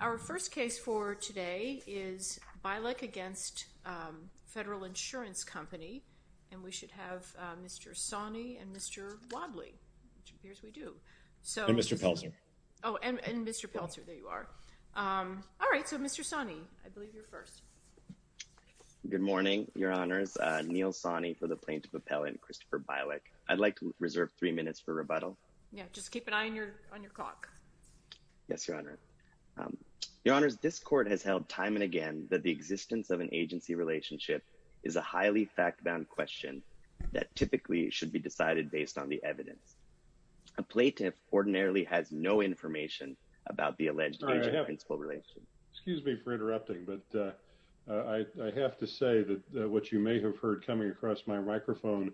Our first case for today is Bilek v. Federal Insurance Company, and we should have Mr. Sawney and Mr. Wadley, which appears we do. And Mr. Pelzer. Oh, and Mr. Pelzer. There you are. All right. So, Mr. Sawney, I believe you're first. Good morning, Your Honors. Neil Sawney for the Plaintiff Appellate and Christopher Bilek. I'd like to reserve three minutes for rebuttal. Yeah, just keep an eye on your clock. Yes, Your Honor. Your Honors, this court has held time and again that the existence of an agency relationship is a highly fact-bound question that typically should be decided based on the evidence. A plaintiff ordinarily has no information about the alleged agent-principal relationship. Excuse me for interrupting, but I have to say that what you may have heard coming across my microphone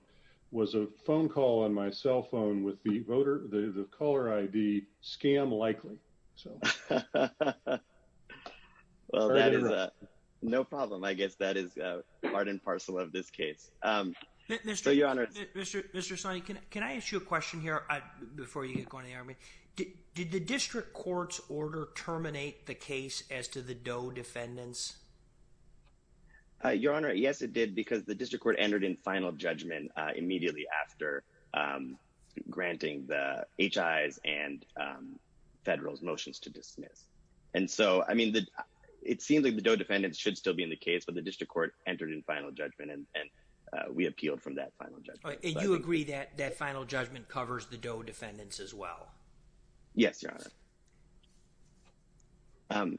was a phone call on my cell phone with the voter, the caller ID, scam likely. Well, that is no problem. I guess that is part and parcel of this case. Mr. Sawney, can I ask you a question here before you get going to the Army? Did the district court's order terminate the case as to the Doe defendants? Your Honor, yes, it did, because the district court entered in final judgment immediately after granting the HI's and federal's motions to dismiss. And so, I mean, it seems like the Doe defendants should still be in the case, but the district court entered in final judgment, and we appealed from that final judgment. And you agree that that final judgment covers the Doe defendants as well? Yes, Your Honor.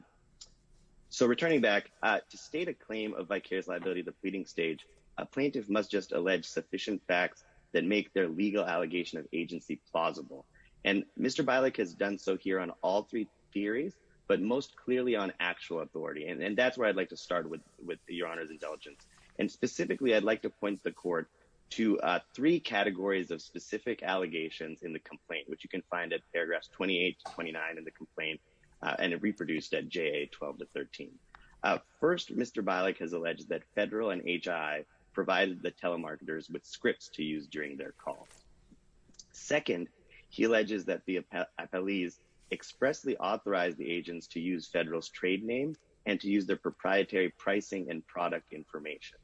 So, returning back, to state a claim of vicarious liability at the pleading stage, a plaintiff must just allege sufficient facts that make their legal allegation of agency plausible. And Mr. Bialik has done so here on all three theories, but most clearly on actual authority. And that's where I'd like to start with, Your Honor's indulgence. And specifically, I'd like to point the court to three categories of specific allegations in the complaint, which you can find at paragraphs 28 to 29 in the complaint, and reproduced at JA 12 to 13. First, Mr. Bialik has alleged that federal and HII provided the telemarketers with scripts to use during their calls. Second, he alleges that the appellees expressly authorized the agents to use federal's trade names and to use their proprietary pricing and product information.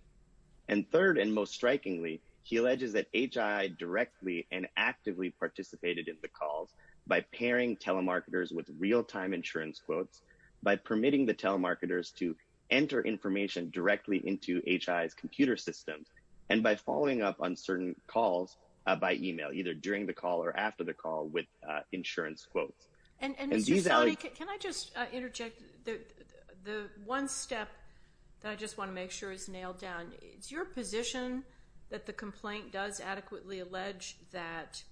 And third, and most strikingly, he alleges that HII directly and actively participated in the calls by pairing telemarketers with real-time insurance quotes, by permitting the telemarketers to enter information directly into HII's computer systems, and by following up on certain calls by email, either during the call or after the call with insurance quotes. And these alle— And Mr. Sonny, can I just interject? The one step that I just want to make sure is nailed down, is your position that the complaint does adequately allege that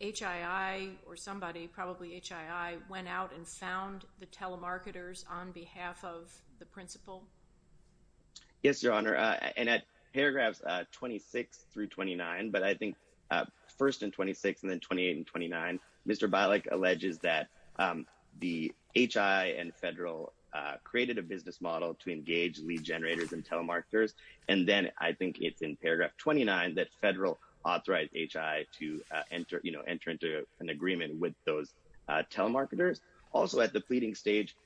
HII or somebody, probably HII, went out and found the telemarketers on behalf of the principal? Yes, Your Honor, and at paragraphs 26 through 29, but I think first in 26 and then 28 and 29, Mr. Bialik alleges that the HII and federal created a business model to engage lead generators and telemarketers, and then I think it's in paragraph 29 that federal authorized HII to enter, you know, enter into an agreement with those telemarketers. Also, at the pleading stage,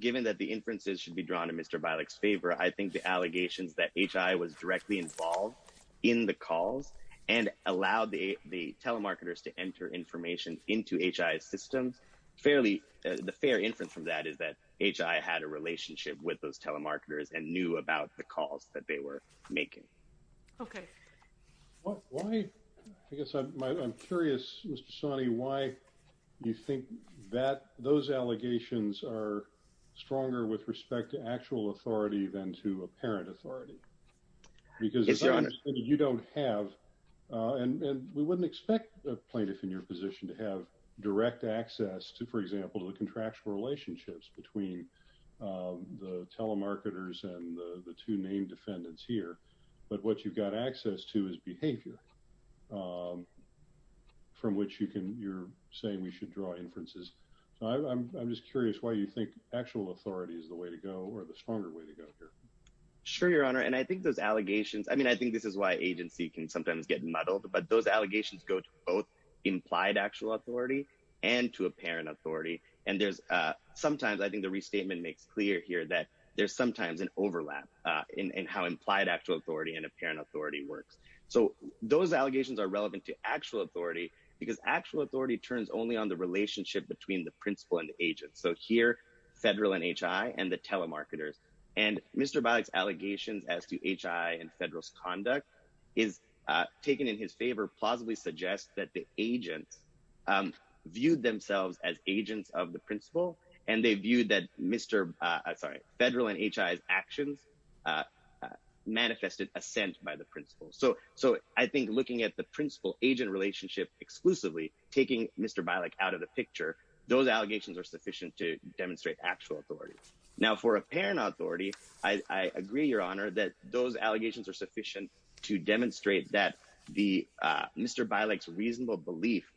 given that the inferences should be drawn in Mr. Bialik's favor, I think the allegations that HII was directly involved in the calls and allowed the telemarketers to enter information into HII's systems, fairly—the fair inference from that is that HII had a relationship with those telemarketers and knew about the calls that they were making. Okay. Why—I guess I'm curious, Mr. Sawney, why you think that those allegations are stronger with respect to actual authority than to apparent authority? Yes, Your Honor. Because you don't have—and we wouldn't expect a plaintiff in your position to have direct access to, for example, the contractual relationships between the telemarketers and the two named defendants here, but what you've got access to is behavior from which you're saying we should draw inferences. I'm just curious why you think actual authority is the way to go or the stronger way to go here. Sure, Your Honor. And I think those allegations—I mean, I think this is why agency can sometimes get muddled, but those allegations go to both implied actual authority and to apparent authority. And there's—sometimes, I think the restatement makes clear here that there's sometimes an overlap in how implied actual authority and apparent authority works. So those allegations are relevant to actual authority because actual authority turns only on the relationship between the principal and the agent. So here, federal and HII and the telemarketers. And Mr. Bilek's allegations as to HII and federal's conduct is taken in his favor, but they super plausibly suggest that the agents viewed themselves as agents of the principal, and they viewed that Mr.—sorry, federal and HII's actions manifested assent by the principal. So I think looking at the principal-agent relationship exclusively, taking Mr. Bilek out of the picture, those allegations are sufficient to demonstrate actual authority. Now, for apparent authority, I agree, Your Honor, that those allegations are sufficient to demonstrate that the—Mr. Bilek's reasonable belief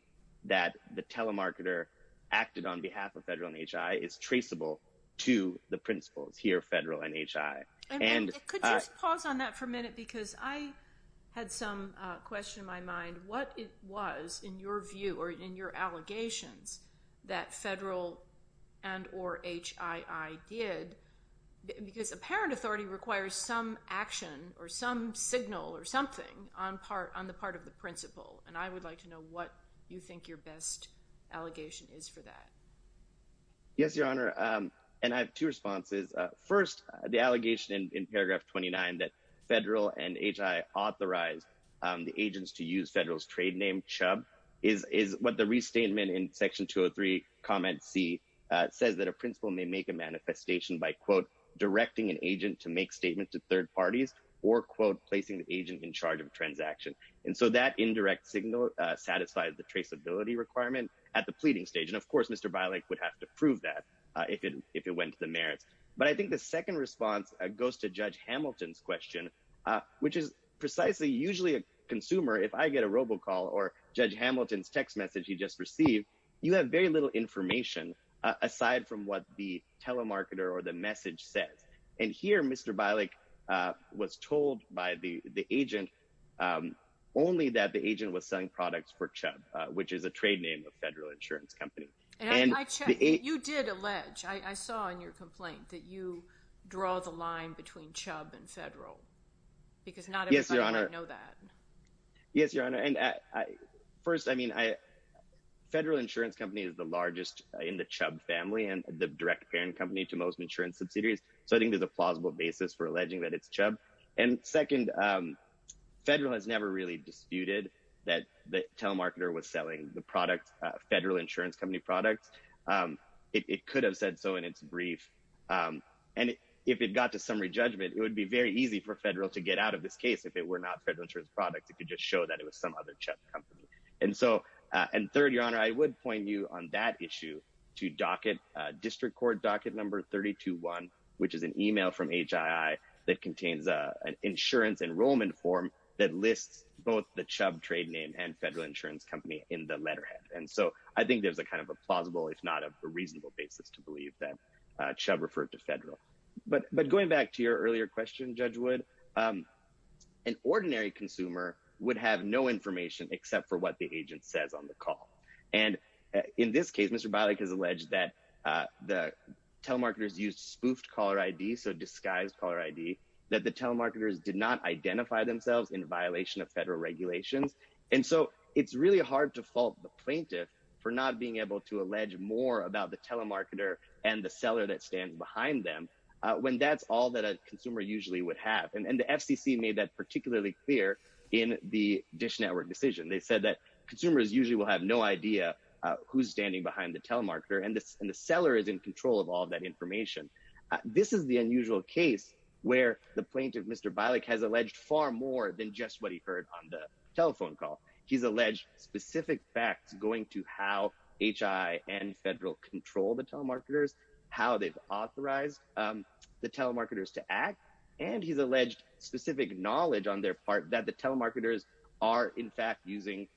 that the telemarketer acted on behalf of federal and HII is traceable to the principals here, federal and HII. And— Could you just pause on that for a minute? Because I had some question in my mind. What was, in your view or in your allegations, that federal and or HII did? Because apparent authority requires some action or some signal or something on the part of the principal, and I would like to know what you think your best allegation is for that. Yes, Your Honor, and I have two responses. First, the allegation in paragraph 29 that federal and HII authorized the agents to use federal's trade name, Chubb, is what the restatement in section 203, comment C, says that a principal may make a manifestation by, quote, directing an agent to make statement to third parties or, quote, placing the agent in charge of transaction. And so that indirect signal satisfies the traceability requirement at the pleading stage. And, of course, Mr. Bilek would have to prove that if it went to the merits. But I think the second response goes to Judge Hamilton's question, which is precisely usually a consumer, if I get a robocall or Judge Hamilton's text message he just received, you have very little information aside from what the telemarketer or the message says. And here, Mr. Bilek was told by the agent only that the agent was selling products for Chubb, which is a trade name of a federal insurance company. And I checked. You did allege. I saw in your complaint that you draw the line between Chubb and federal because not everybody would know that. Yes, Your Honor. And first, I mean, federal insurance company is the largest in the Chubb family and the direct parent company to most insurance subsidiaries. So I think there's a plausible basis for alleging that it's Chubb. And second, federal has never really disputed that the telemarketer was selling the product, federal insurance company products. It could have said so in its brief. And if it got to summary judgment, it would be very easy for federal to get out of this case if it were not federal insurance products. It could just show that it was some other Chubb company. And so and third, Your Honor, I would point you on that issue to docket district court docket number thirty two one, which is an email from HII that contains an insurance enrollment form that lists both the Chubb trade name and federal insurance company in the letterhead. And so I think there's a kind of a plausible, if not a reasonable basis to believe that Chubb referred to federal. But but going back to your earlier question, Judge Wood, an ordinary consumer would have no information except for what the agent says on the call. And in this case, Mr. Bilek has alleged that the telemarketers used spoofed caller ID, so disguised caller ID, that the telemarketers did not identify themselves in violation of federal regulations. And so it's really hard to fault the plaintiff for not being able to allege more about the telemarketer when that's all that a consumer usually would have. And the FCC made that particularly clear in the Dish Network decision. They said that consumers usually will have no idea who's standing behind the telemarketer and the seller is in control of all that information. This is the unusual case where the plaintiff, Mr. Bilek, has alleged far more than just what he heard on the telephone call. He's alleged specific facts going to how H.I. and federal control the telemarketers, how they've authorized the telemarketers to act. And he's alleged specific knowledge on their part that the telemarketers are in fact using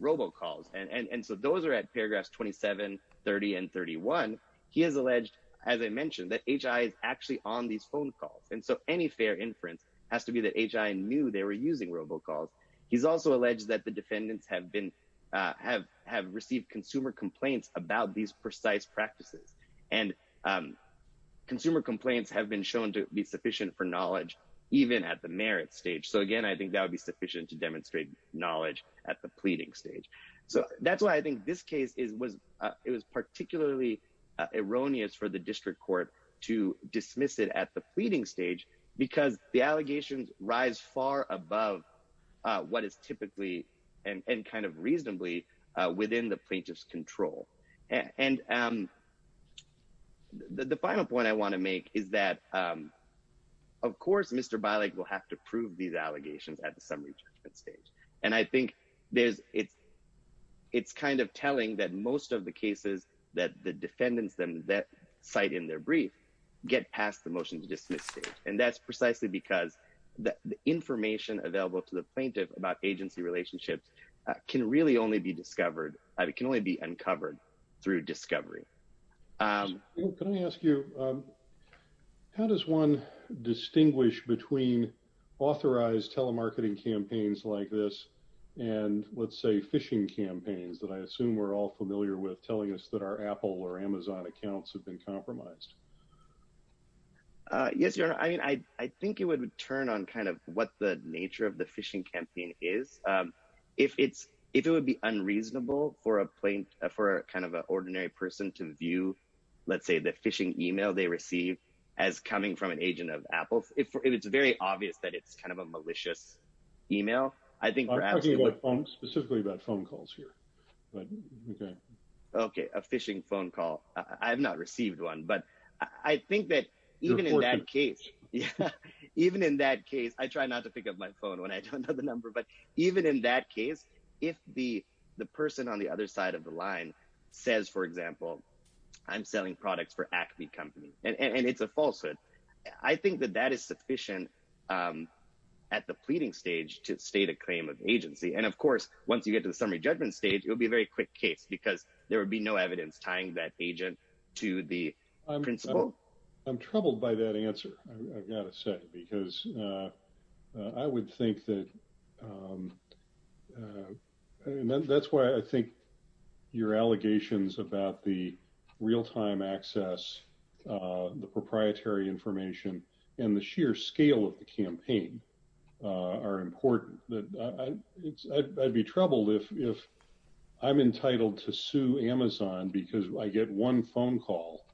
robocalls. And so those are at paragraphs 27, 30 and 31. He has alleged, as I mentioned, that H.I. is actually on these phone calls. And so any fair inference has to be that H.I. knew they were using robocalls. He's also alleged that the defendants have been have have received consumer complaints about these precise practices and consumer complaints have been shown to be sufficient for knowledge even at the merit stage. So, again, I think that would be sufficient to demonstrate knowledge at the pleading stage. So that's why I think this case is was it was particularly erroneous for the district court to dismiss it at the pleading stage because the allegations rise far above what is typically and kind of reasonably within the plaintiff's control. And the final point I want to make is that, of course, Mr. Bilek will have to prove these allegations at the summary judgment stage. And I think there's it's it's kind of telling that most of the cases that the defendants that cite in their brief get past the motion to dismiss it. And that's precisely because the information available to the plaintiff about agency relationships can really only be discovered. It can only be uncovered through discovery. Can I ask you, how does one distinguish between authorized telemarketing campaigns like this and, let's say, phishing campaigns that I assume we're all familiar with telling us that our Apple or Amazon accounts have been compromised? Yes, your honor. I mean, I think it would turn on kind of what the nature of the phishing campaign is. If it's if it would be unreasonable for a plain for kind of an ordinary person to view, let's say, the phishing email they receive as coming from an agent of Apple, if it's very obvious that it's kind of a malicious email. I think I'm specifically about phone calls here. OK, a phishing phone call. I have not received one, but I think that even in that case, even in that case, I try not to pick up my phone when I don't know the number. But even in that case, if the the person on the other side of the line says, for example, I'm selling products for Acme Company and it's a falsehood, I think that that is sufficient at the pleading stage to state a claim of agency. And of course, once you get to the summary judgment stage, it would be a very quick case because there would be no evidence tying that agent to the principal. I'm troubled by that answer. I've got to say, because I would think that that's why I think your allegations about the real time access, the proprietary information and the sheer scale of the campaign are important. I'd be troubled if I'm entitled to sue Amazon because I get one phone call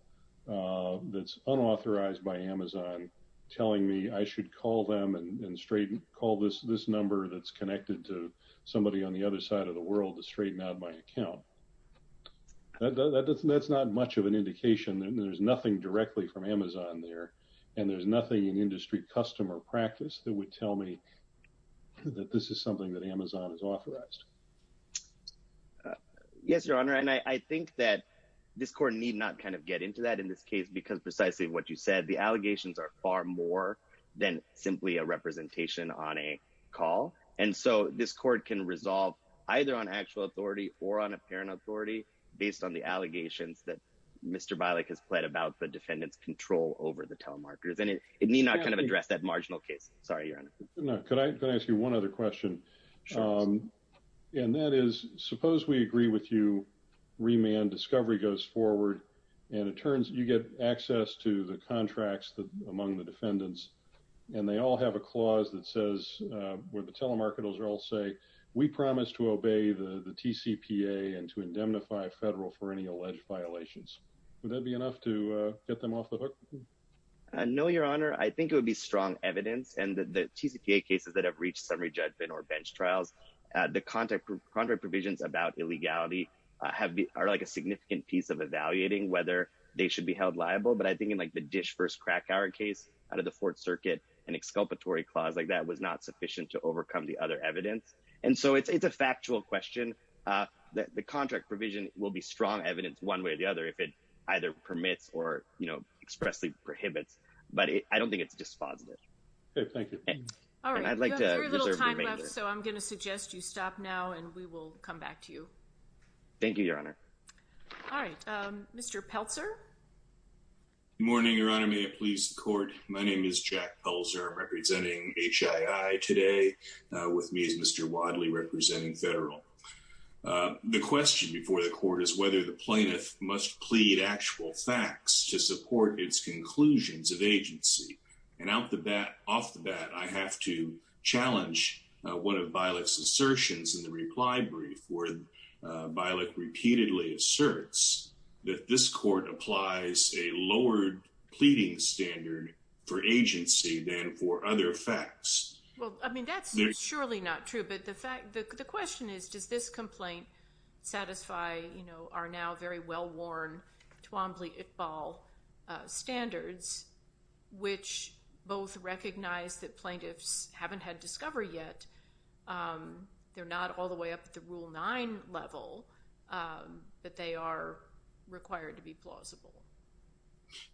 that's unauthorized by Amazon telling me I should call them and call this number that's connected to somebody on the other side of the world to straighten out my account. That's not much of an indication. There's nothing directly from Amazon there. And there's nothing in industry customer practice that would tell me that this is something that Amazon is authorized. Yes, your honor. And I think that this court need not kind of get into that in this case, because precisely what you said, the allegations are far more than simply a representation on a call. And so this court can resolve either on actual authority or on apparent authority based on the allegations that Mr. Bilek has played about the defendant's control over the telemarketers. And it may not kind of address that marginal case. Sorry, your honor. No, could I ask you one other question? And that is, suppose we agree with you, remand discovery goes forward, and it turns you get access to the contracts among the defendants. And they all have a clause that says where the telemarketers are all say, we promise to obey the TCPA and to indemnify federal for any alleged violations. Would that be enough to get them off the hook? No, your honor. I think it would be strong evidence. And the TCPA cases that have reached summary judgment or bench trials, the contract provisions about illegality are like a significant piece of evaluating whether they should be held liable. But I think in like the Dish v. Krakauer case out of the Fourth Circuit, an exculpatory clause like that was not sufficient to overcome the other evidence. And so it's a factual question. The contract provision will be strong evidence one way or the other if it either permits or expressly prohibits. But I don't think it's dispositive. Okay, thank you. All right. You have very little time left, so I'm going to suggest you stop now, and we will come back to you. Thank you, your honor. All right. Mr. Pelzer? Good morning, your honor. May it please the court. My name is Jack Pelzer. I'm representing HII today. With me is Mr. Wadley, representing Federal. The question before the court is whether the plaintiff must plead actual facts to support its conclusions of agency. And off the bat, I have to challenge one of Bialik's assertions in the reply brief where Bialik repeatedly asserts that this court applies a lowered pleading standard for agency than for other facts. Well, I mean, that's surely not true, but the question is, does this complaint satisfy our now very well-worn Twombly-Iqbal standards, which both recognize that plaintiffs haven't had discovery yet. They're not all the way up at the Rule 9 level, but they are required to be plausible.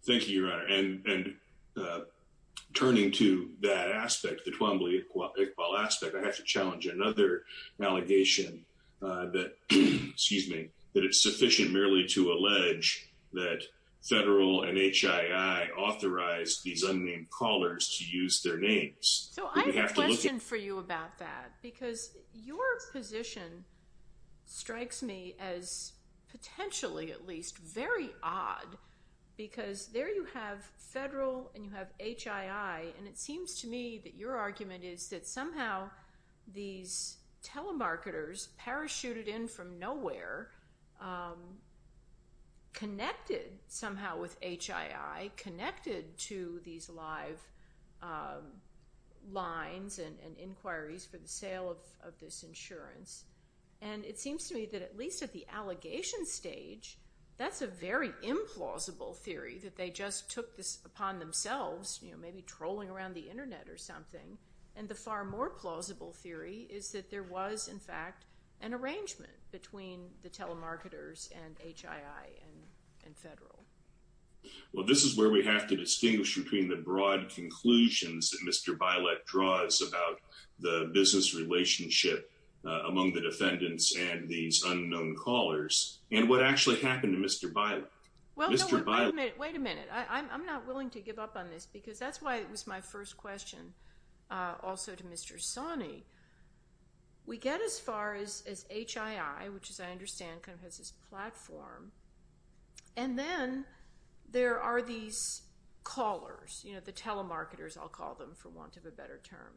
Thank you, your honor. And turning to that aspect, the Twombly-Iqbal aspect, I have to challenge another allegation that, excuse me, that it's sufficient merely to allege that Federal and HII authorized these unnamed callers to use their names. So I have a question for you about that, because your position strikes me as potentially, at least, very odd. Because there you have Federal and you have HII, and it seems to me that your argument is that somehow these telemarketers parachuted in from nowhere, connected somehow with HII, connected to these live lines and inquiries for the sale of this insurance. And it seems to me that at least at the allegation stage, that's a very implausible theory, that they just took this upon themselves, you know, maybe trolling around the Internet or something. And the far more plausible theory is that there was, in fact, an arrangement between the telemarketers and HII and Federal. Well, this is where we have to distinguish between the broad conclusions that Mr. Bilek draws about the business relationship among the defendants and these unknown callers and what actually happened to Mr. Bilek. Well, no, wait a minute. Wait a minute. I'm not willing to give up on this, because that's why it was my first question also to Mr. Sani. We get as far as HII, which as I understand kind of has this platform, and then there are these callers, you know, the telemarketers, I'll call them for want of a better term.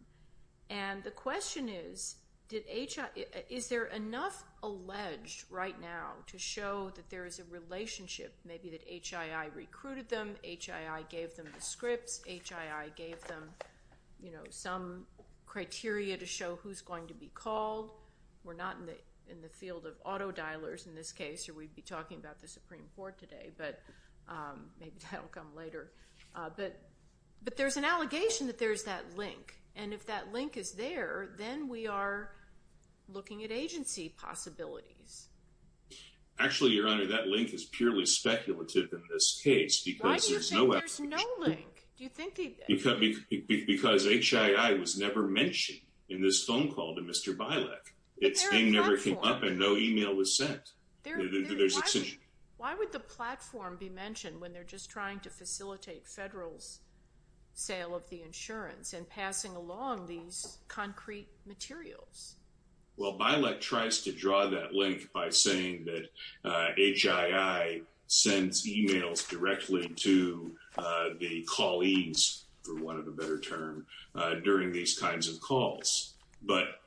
And the question is, is there enough alleged right now to show that there is a relationship, maybe that HII recruited them, HII gave them the scripts, HII gave them, you know, some criteria to show who's going to be called. We're not in the field of autodialers in this case, or we'd be talking about the Supreme Court today, but maybe that will come later. But there's an allegation that there's that link, and if that link is there, then we are looking at agency possibilities. Actually, Your Honor, that link is purely speculative in this case because there's no application. Why do you think there's no link? Because HII was never mentioned in this phone call to Mr. Bilek. Its name never came up and no email was sent. Why would the platform be mentioned when they're just trying to facilitate federal's sale of the insurance and passing along these concrete materials? Well, Bilek tries to draw that link by saying that HII sends emails directly to the colleagues, for want of a better term, during these kinds of calls. But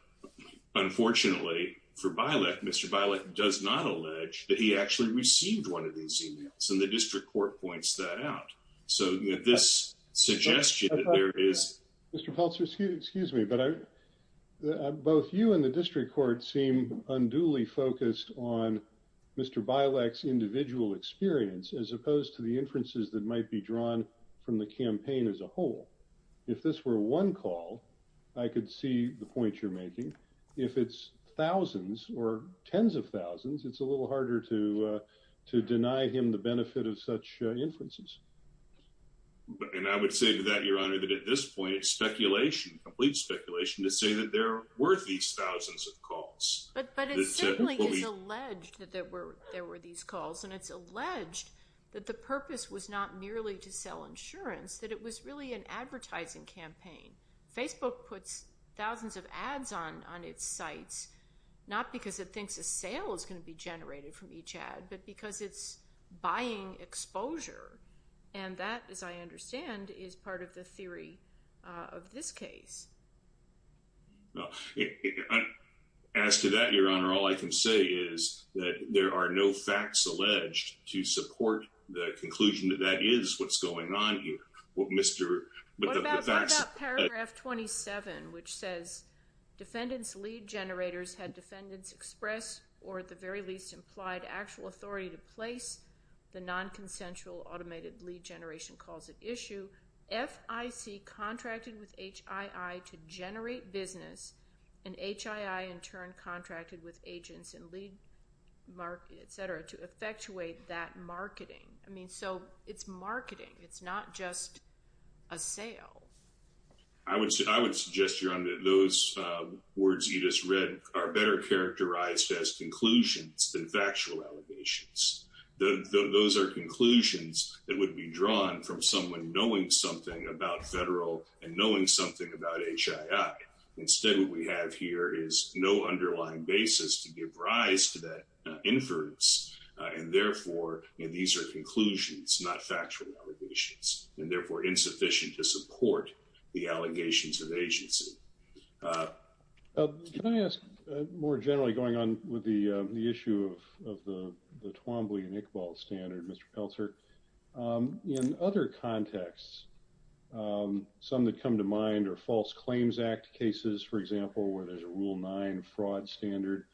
unfortunately for Bilek, Mr. Bilek does not allege that he actually received one of these emails, and the district court points that out. So this suggestion that there is… Mr. Pulsar, excuse me, but both you and the district court seem unduly focused on Mr. Bilek's individual experience as opposed to the inferences that might be drawn from the campaign as a whole. If this were one call, I could see the point you're making. If it's thousands or tens of thousands, it's a little harder to deny him the benefit of such inferences. And I would say to that, Your Honor, that at this point it's speculation, complete speculation, to say that there were these thousands of calls. But it certainly is alleged that there were these calls, and it's alleged that the purpose was not merely to sell insurance, that it was really an advertising campaign. Facebook puts thousands of ads on its sites, not because it thinks a sale is going to be generated from each ad, but because it's buying exposure. And that, as I understand, is part of the theory of this case. As to that, Your Honor, all I can say is that there are no facts alleged to support the conclusion that that is what's going on here. What about paragraph 27, which says, defendants' lead generators had defendants express or at the very least implied actual authority to place the nonconsensual automated lead generation calls at issue. FIC contracted with HII to generate business, and HII in turn contracted with agents and lead market, et cetera, to effectuate that marketing. I mean, so it's marketing. It's not just a sale. I would suggest, Your Honor, that those words you just read are better characterized as conclusions than factual allegations. Those are conclusions that would be drawn from someone knowing something about federal and knowing something about HII. Instead, what we have here is no underlying basis to give rise to that inference, and therefore these are conclusions, not factual allegations, and therefore insufficient to support the allegations of agency. Can I ask more generally going on with the issue of the Twombly and Iqbal standard, Mr. Pelzer? In other contexts, some that come to mind are False Claims Act cases, for example, where there's a Rule 9 fraud standard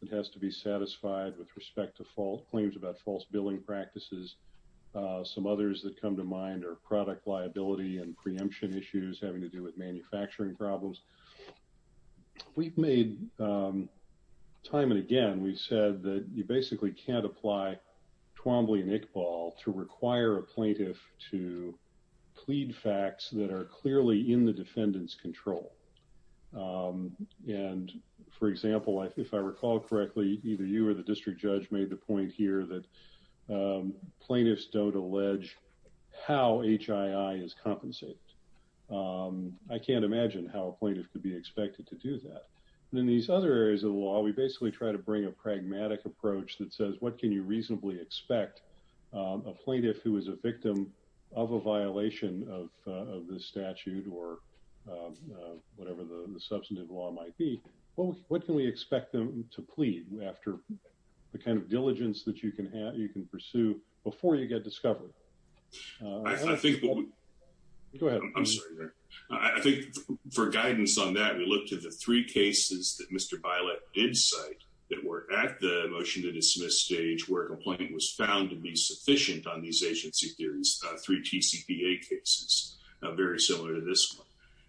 that has to be satisfied with respect to claims about false billing practices. Some others that come to mind are product liability and preemption issues having to do with manufacturing problems. We've made time and again, we've said that you basically can't apply Twombly and Iqbal to require a plaintiff to plead facts that are clearly in the defendant's control. And, for example, if I recall correctly, either you or the district judge made the point here that plaintiffs don't allege how HII is compensated. I can't imagine how a plaintiff could be expected to do that. In these other areas of the law, we basically try to bring a pragmatic approach that says, what can you reasonably expect a plaintiff who is a victim of a violation of this statute or whatever the substantive law might be? What can we expect them to plead after the kind of diligence that you can have, you can pursue before you get discovered? I think for guidance on that, we looked at the three cases that Mr. Bailet did cite that were at the motion to dismiss stage where a complaint was found to be sufficient on these agency theories, three TCPA cases, very similar to this one.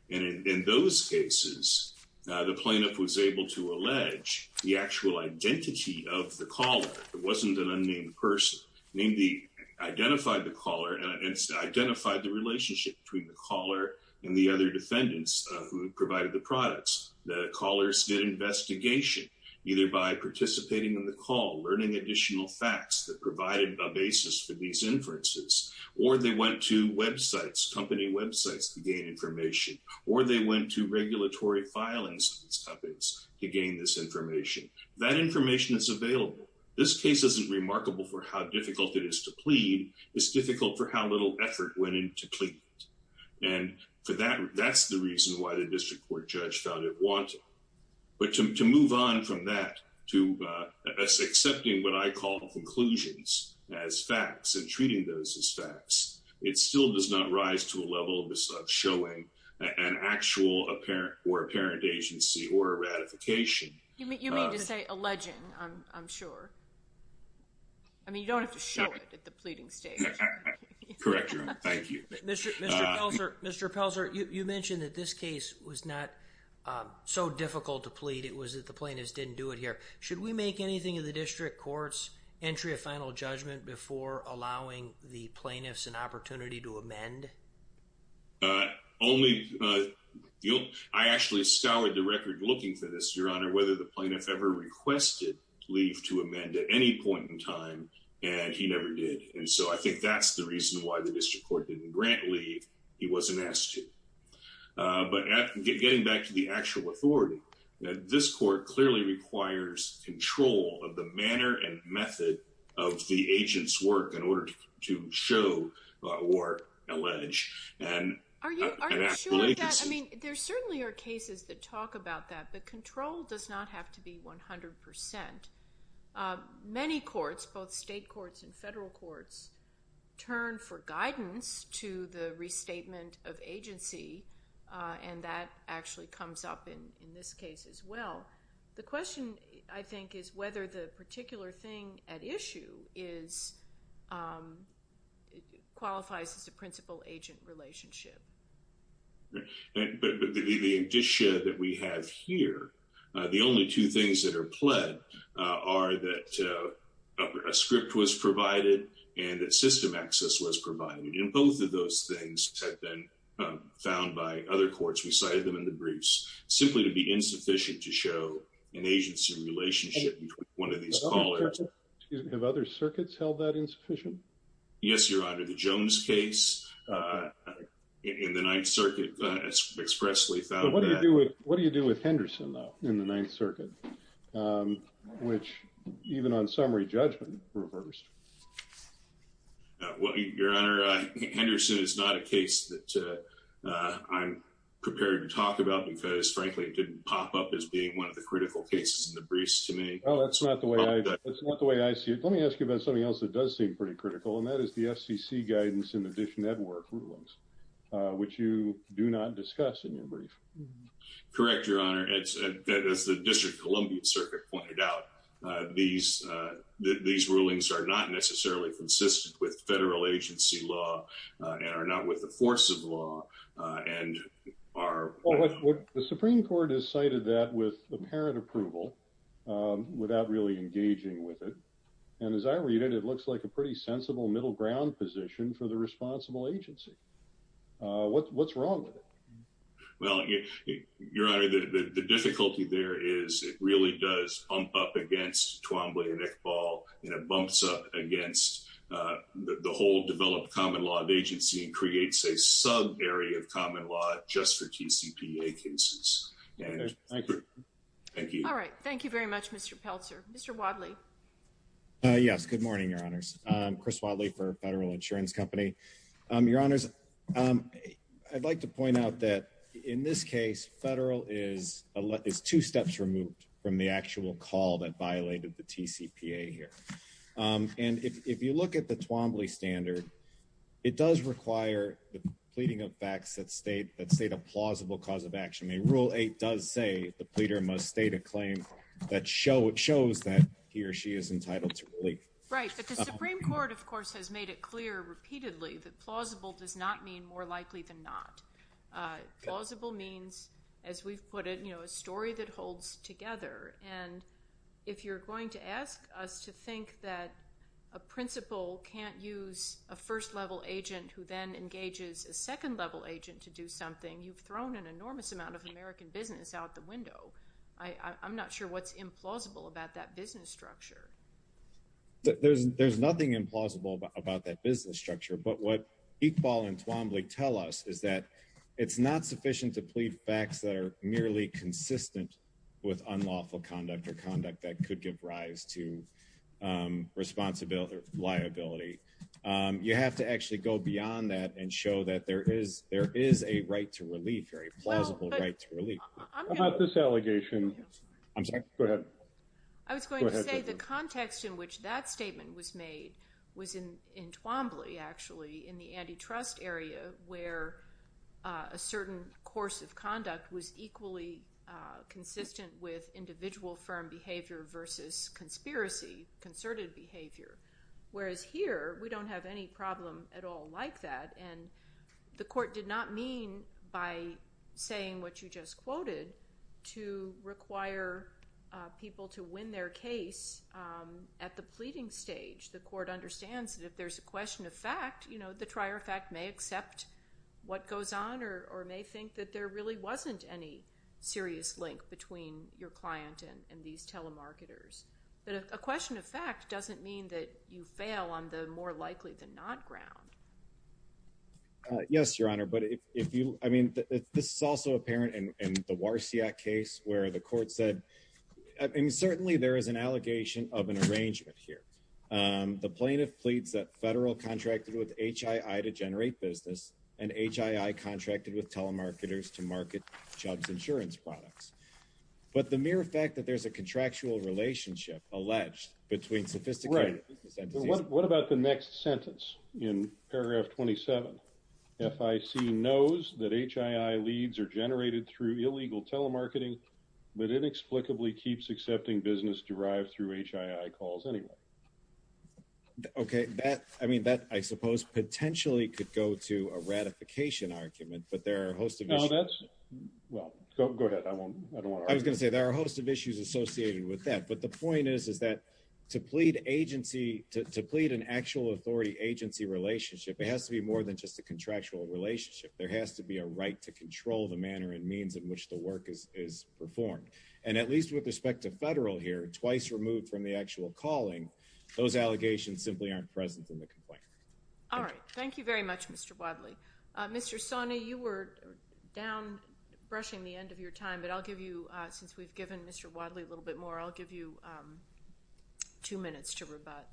And in those cases, the plaintiff was able to allege the actual identity of the caller. It wasn't an unnamed person. They identified the caller and identified the relationship between the caller and the other defendants who provided the products. The callers did investigation, either by participating in the call, learning additional facts that provided a basis for these inferences, or they went to websites, company websites to gain information, or they went to regulatory filings to gain this information. That information is available. This case isn't remarkable for how difficult it is to plead. It's difficult for how little effort went into pleading it. And for that, that's the reason why the district court judge found it wanton. But to move on from that to accepting what I call conclusions as facts and treating those as facts, it still does not rise to a level of showing an actual or apparent agency or a ratification. You mean to say alleging, I'm sure. I mean, you don't have to show it at the pleading stage. Correct, Your Honor. Thank you. Mr. Pelzer, you mentioned that this case was not so difficult to plead. It was that the plaintiffs didn't do it here. Should we make anything of the district court's entry of final judgment before allowing the plaintiffs an opportunity to amend? Only, you know, I actually scoured the record looking for this, Your Honor, whether the plaintiff ever requested leave to amend at any point in time, and he never did. And so I think that's the reason why the district court didn't grant leave. He wasn't asked to. But getting back to the actual authority, this court clearly requires control of the manner and method of the agent's work in order to show or allege an actual agency. Are you sure of that? I mean, there certainly are cases that talk about that, but control does not have to be 100 percent. Many courts, both state courts and federal courts, turn for guidance to the restatement of agency, and that actually comes up in this case as well. The question, I think, is whether the particular thing at issue qualifies as a principal-agent relationship. But the indicia that we have here, the only two things that are pled are that a script was provided and that system access was provided. And both of those things have been found by other courts. We cited them in the briefs simply to be insufficient to show an agency relationship with one of these callers. Have other circuits held that insufficient? Yes, Your Honor. The Jones case in the Ninth Circuit expressly found that. But what do you do with Henderson, though, in the Ninth Circuit, which even on summary judgment reversed? Well, Your Honor, Henderson is not a case that I'm prepared to talk about because, frankly, it didn't pop up as being one of the critical cases in the briefs to me. Well, that's not the way I see it. Let me ask you about something else that does seem pretty critical, and that is the FCC guidance in the DISH Network rulings, which you do not discuss in your brief. Correct, Your Honor. As the District of Columbia Circuit pointed out, these rulings are not necessarily consistent with federal agency law and are not with the force of law and are— Now, the Supreme Court has cited that with apparent approval without really engaging with it. And as I read it, it looks like a pretty sensible middle ground position for the responsible agency. What's wrong with it? Well, Your Honor, the difficulty there is it really does bump up against Twombly and Iqbal, and it bumps up against the whole developed common law agency and creates a subarea of common law just for TCPA cases. Thank you. All right. Thank you very much, Mr. Pelzer. Mr. Wadley. Yes, good morning, Your Honors. Chris Wadley for Federal Insurance Company. Your Honors, I'd like to point out that in this case, federal is two steps removed from the actual call that violated the TCPA here. And if you look at the Twombly standard, it does require the pleading of facts that state a plausible cause of action. Rule 8 does say the pleader must state a claim that shows that he or she is entitled to relief. Right, but the Supreme Court, of course, has made it clear repeatedly that plausible does not mean more likely than not. Plausible means, as we've put it, a story that holds together. And if you're going to ask us to think that a principal can't use a first-level agent who then engages a second-level agent to do something, you've thrown an enormous amount of American business out the window. I'm not sure what's implausible about that business structure. There's nothing implausible about that business structure. But what Iqbal and Twombly tell us is that it's not sufficient to plead facts that are merely consistent with unlawful conduct or conduct that could give rise to responsibility or liability. You have to actually go beyond that and show that there is a right to relief or a plausible right to relief. How about this allegation? Go ahead. I was going to say the context in which that statement was made was in Twombly, actually, in the antitrust area, where a certain course of conduct was equally consistent with individual firm behavior versus conspiracy, concerted behavior. Whereas here, we don't have any problem at all like that. And the court did not mean by saying what you just quoted to require people to win their case at the pleading stage. The court understands that if there's a question of fact, the trier of fact may accept what goes on or may think that there really wasn't any serious link between your client and these telemarketers. But a question of fact doesn't mean that you fail on the more likely-than-not ground. Yes, Your Honor. But if you – I mean, this is also apparent in the Warsiak case where the court said – and certainly, there is an allegation of an arrangement here. The plaintiff pleads that Federal contracted with HII to generate business and HII contracted with telemarketers to market Chubbs Insurance products. But the mere fact that there's a contractual relationship alleged between sophisticated business entities – Right. What about the next sentence in paragraph 27? FIC knows that HII leads are generated through illegal telemarketing but inexplicably keeps accepting business derived through HII calls anyway. Okay. That – I mean, that, I suppose, potentially could go to a ratification argument, but there are a host of issues. Well, that's – well, go ahead. I don't want to argue. I was going to say there are a host of issues associated with that. But the point is, is that to plead agency – to plead an actual authority-agency relationship, it has to be more than just a contractual relationship. There has to be a right to control the manner and means in which the work is performed. And at least with respect to Federal here, twice removed from the actual calling, those allegations simply aren't present in the complaint. All right. Thank you very much, Mr. Wadley. Mr. Sawney, you were down, brushing the end of your time, but I'll give you – since we've given Mr. Wadley a little bit more, I'll give you two minutes to rebut.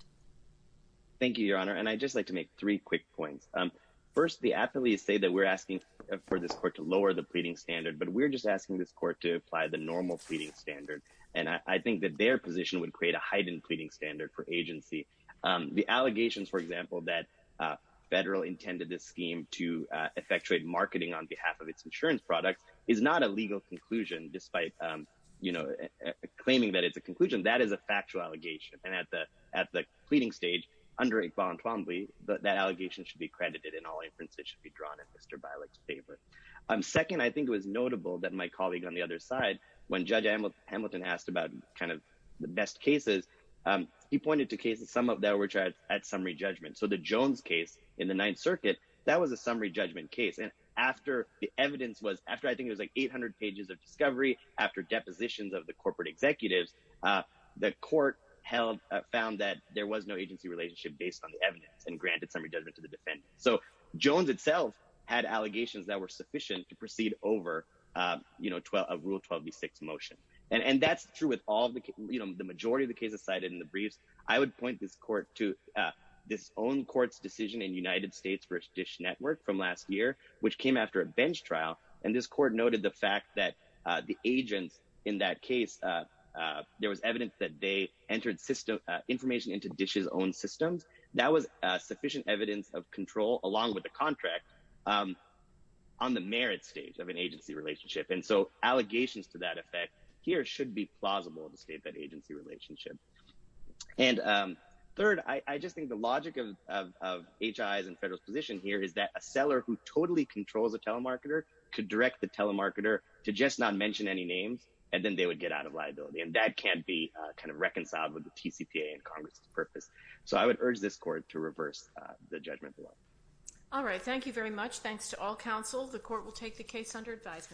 Thank you, Your Honor. And I'd just like to make three quick points. First, the affiliates say that we're asking for this court to lower the pleading standard, but we're just asking this court to apply the normal pleading standard. And I think that their position would create a heightened pleading standard for agency. The allegations, for example, that Federal intended this scheme to effectuate marketing on behalf of its insurance products is not a legal conclusion, despite claiming that it's a conclusion. That is a factual allegation. And at the pleading stage, under Iqbal and Twombly, that allegation should be credited and all inferences should be drawn in Mr. Bialik's favor. Second, I think it was notable that my colleague on the other side, when Judge Hamilton asked about kind of the best cases, he pointed to cases, some of which are at summary judgment. So the Jones case in the Ninth Circuit, that was a summary judgment case. And after the evidence was – after I think it was like 800 pages of discovery, after depositions of the corporate executives, the court held – found that there was no agency relationship based on the evidence and granted summary judgment to the defendant. So Jones itself had allegations that were sufficient to proceed over a Rule 12b-6 motion. And that's true with all the – the majority of the cases cited in the briefs. I would point this court to this own court's decision in United States v. Dish Network from last year, which came after a bench trial. And this court noted the fact that the agents in that case, there was evidence that they entered information into Dish's own systems. That was sufficient evidence of control along with the contract on the merit stage of an agency relationship. And so allegations to that effect here should be plausible to state that agency relationship. And third, I just think the logic of HI's and federal's position here is that a seller who totally controls a telemarketer could direct the telemarketer to just not mention any names, and then they would get out of liability. And that can't be kind of reconciled with the TCPA and Congress's purpose. So I would urge this court to reverse the judgment law. All right, thank you very much. Thanks to all counsel. The court will take the case under advisement.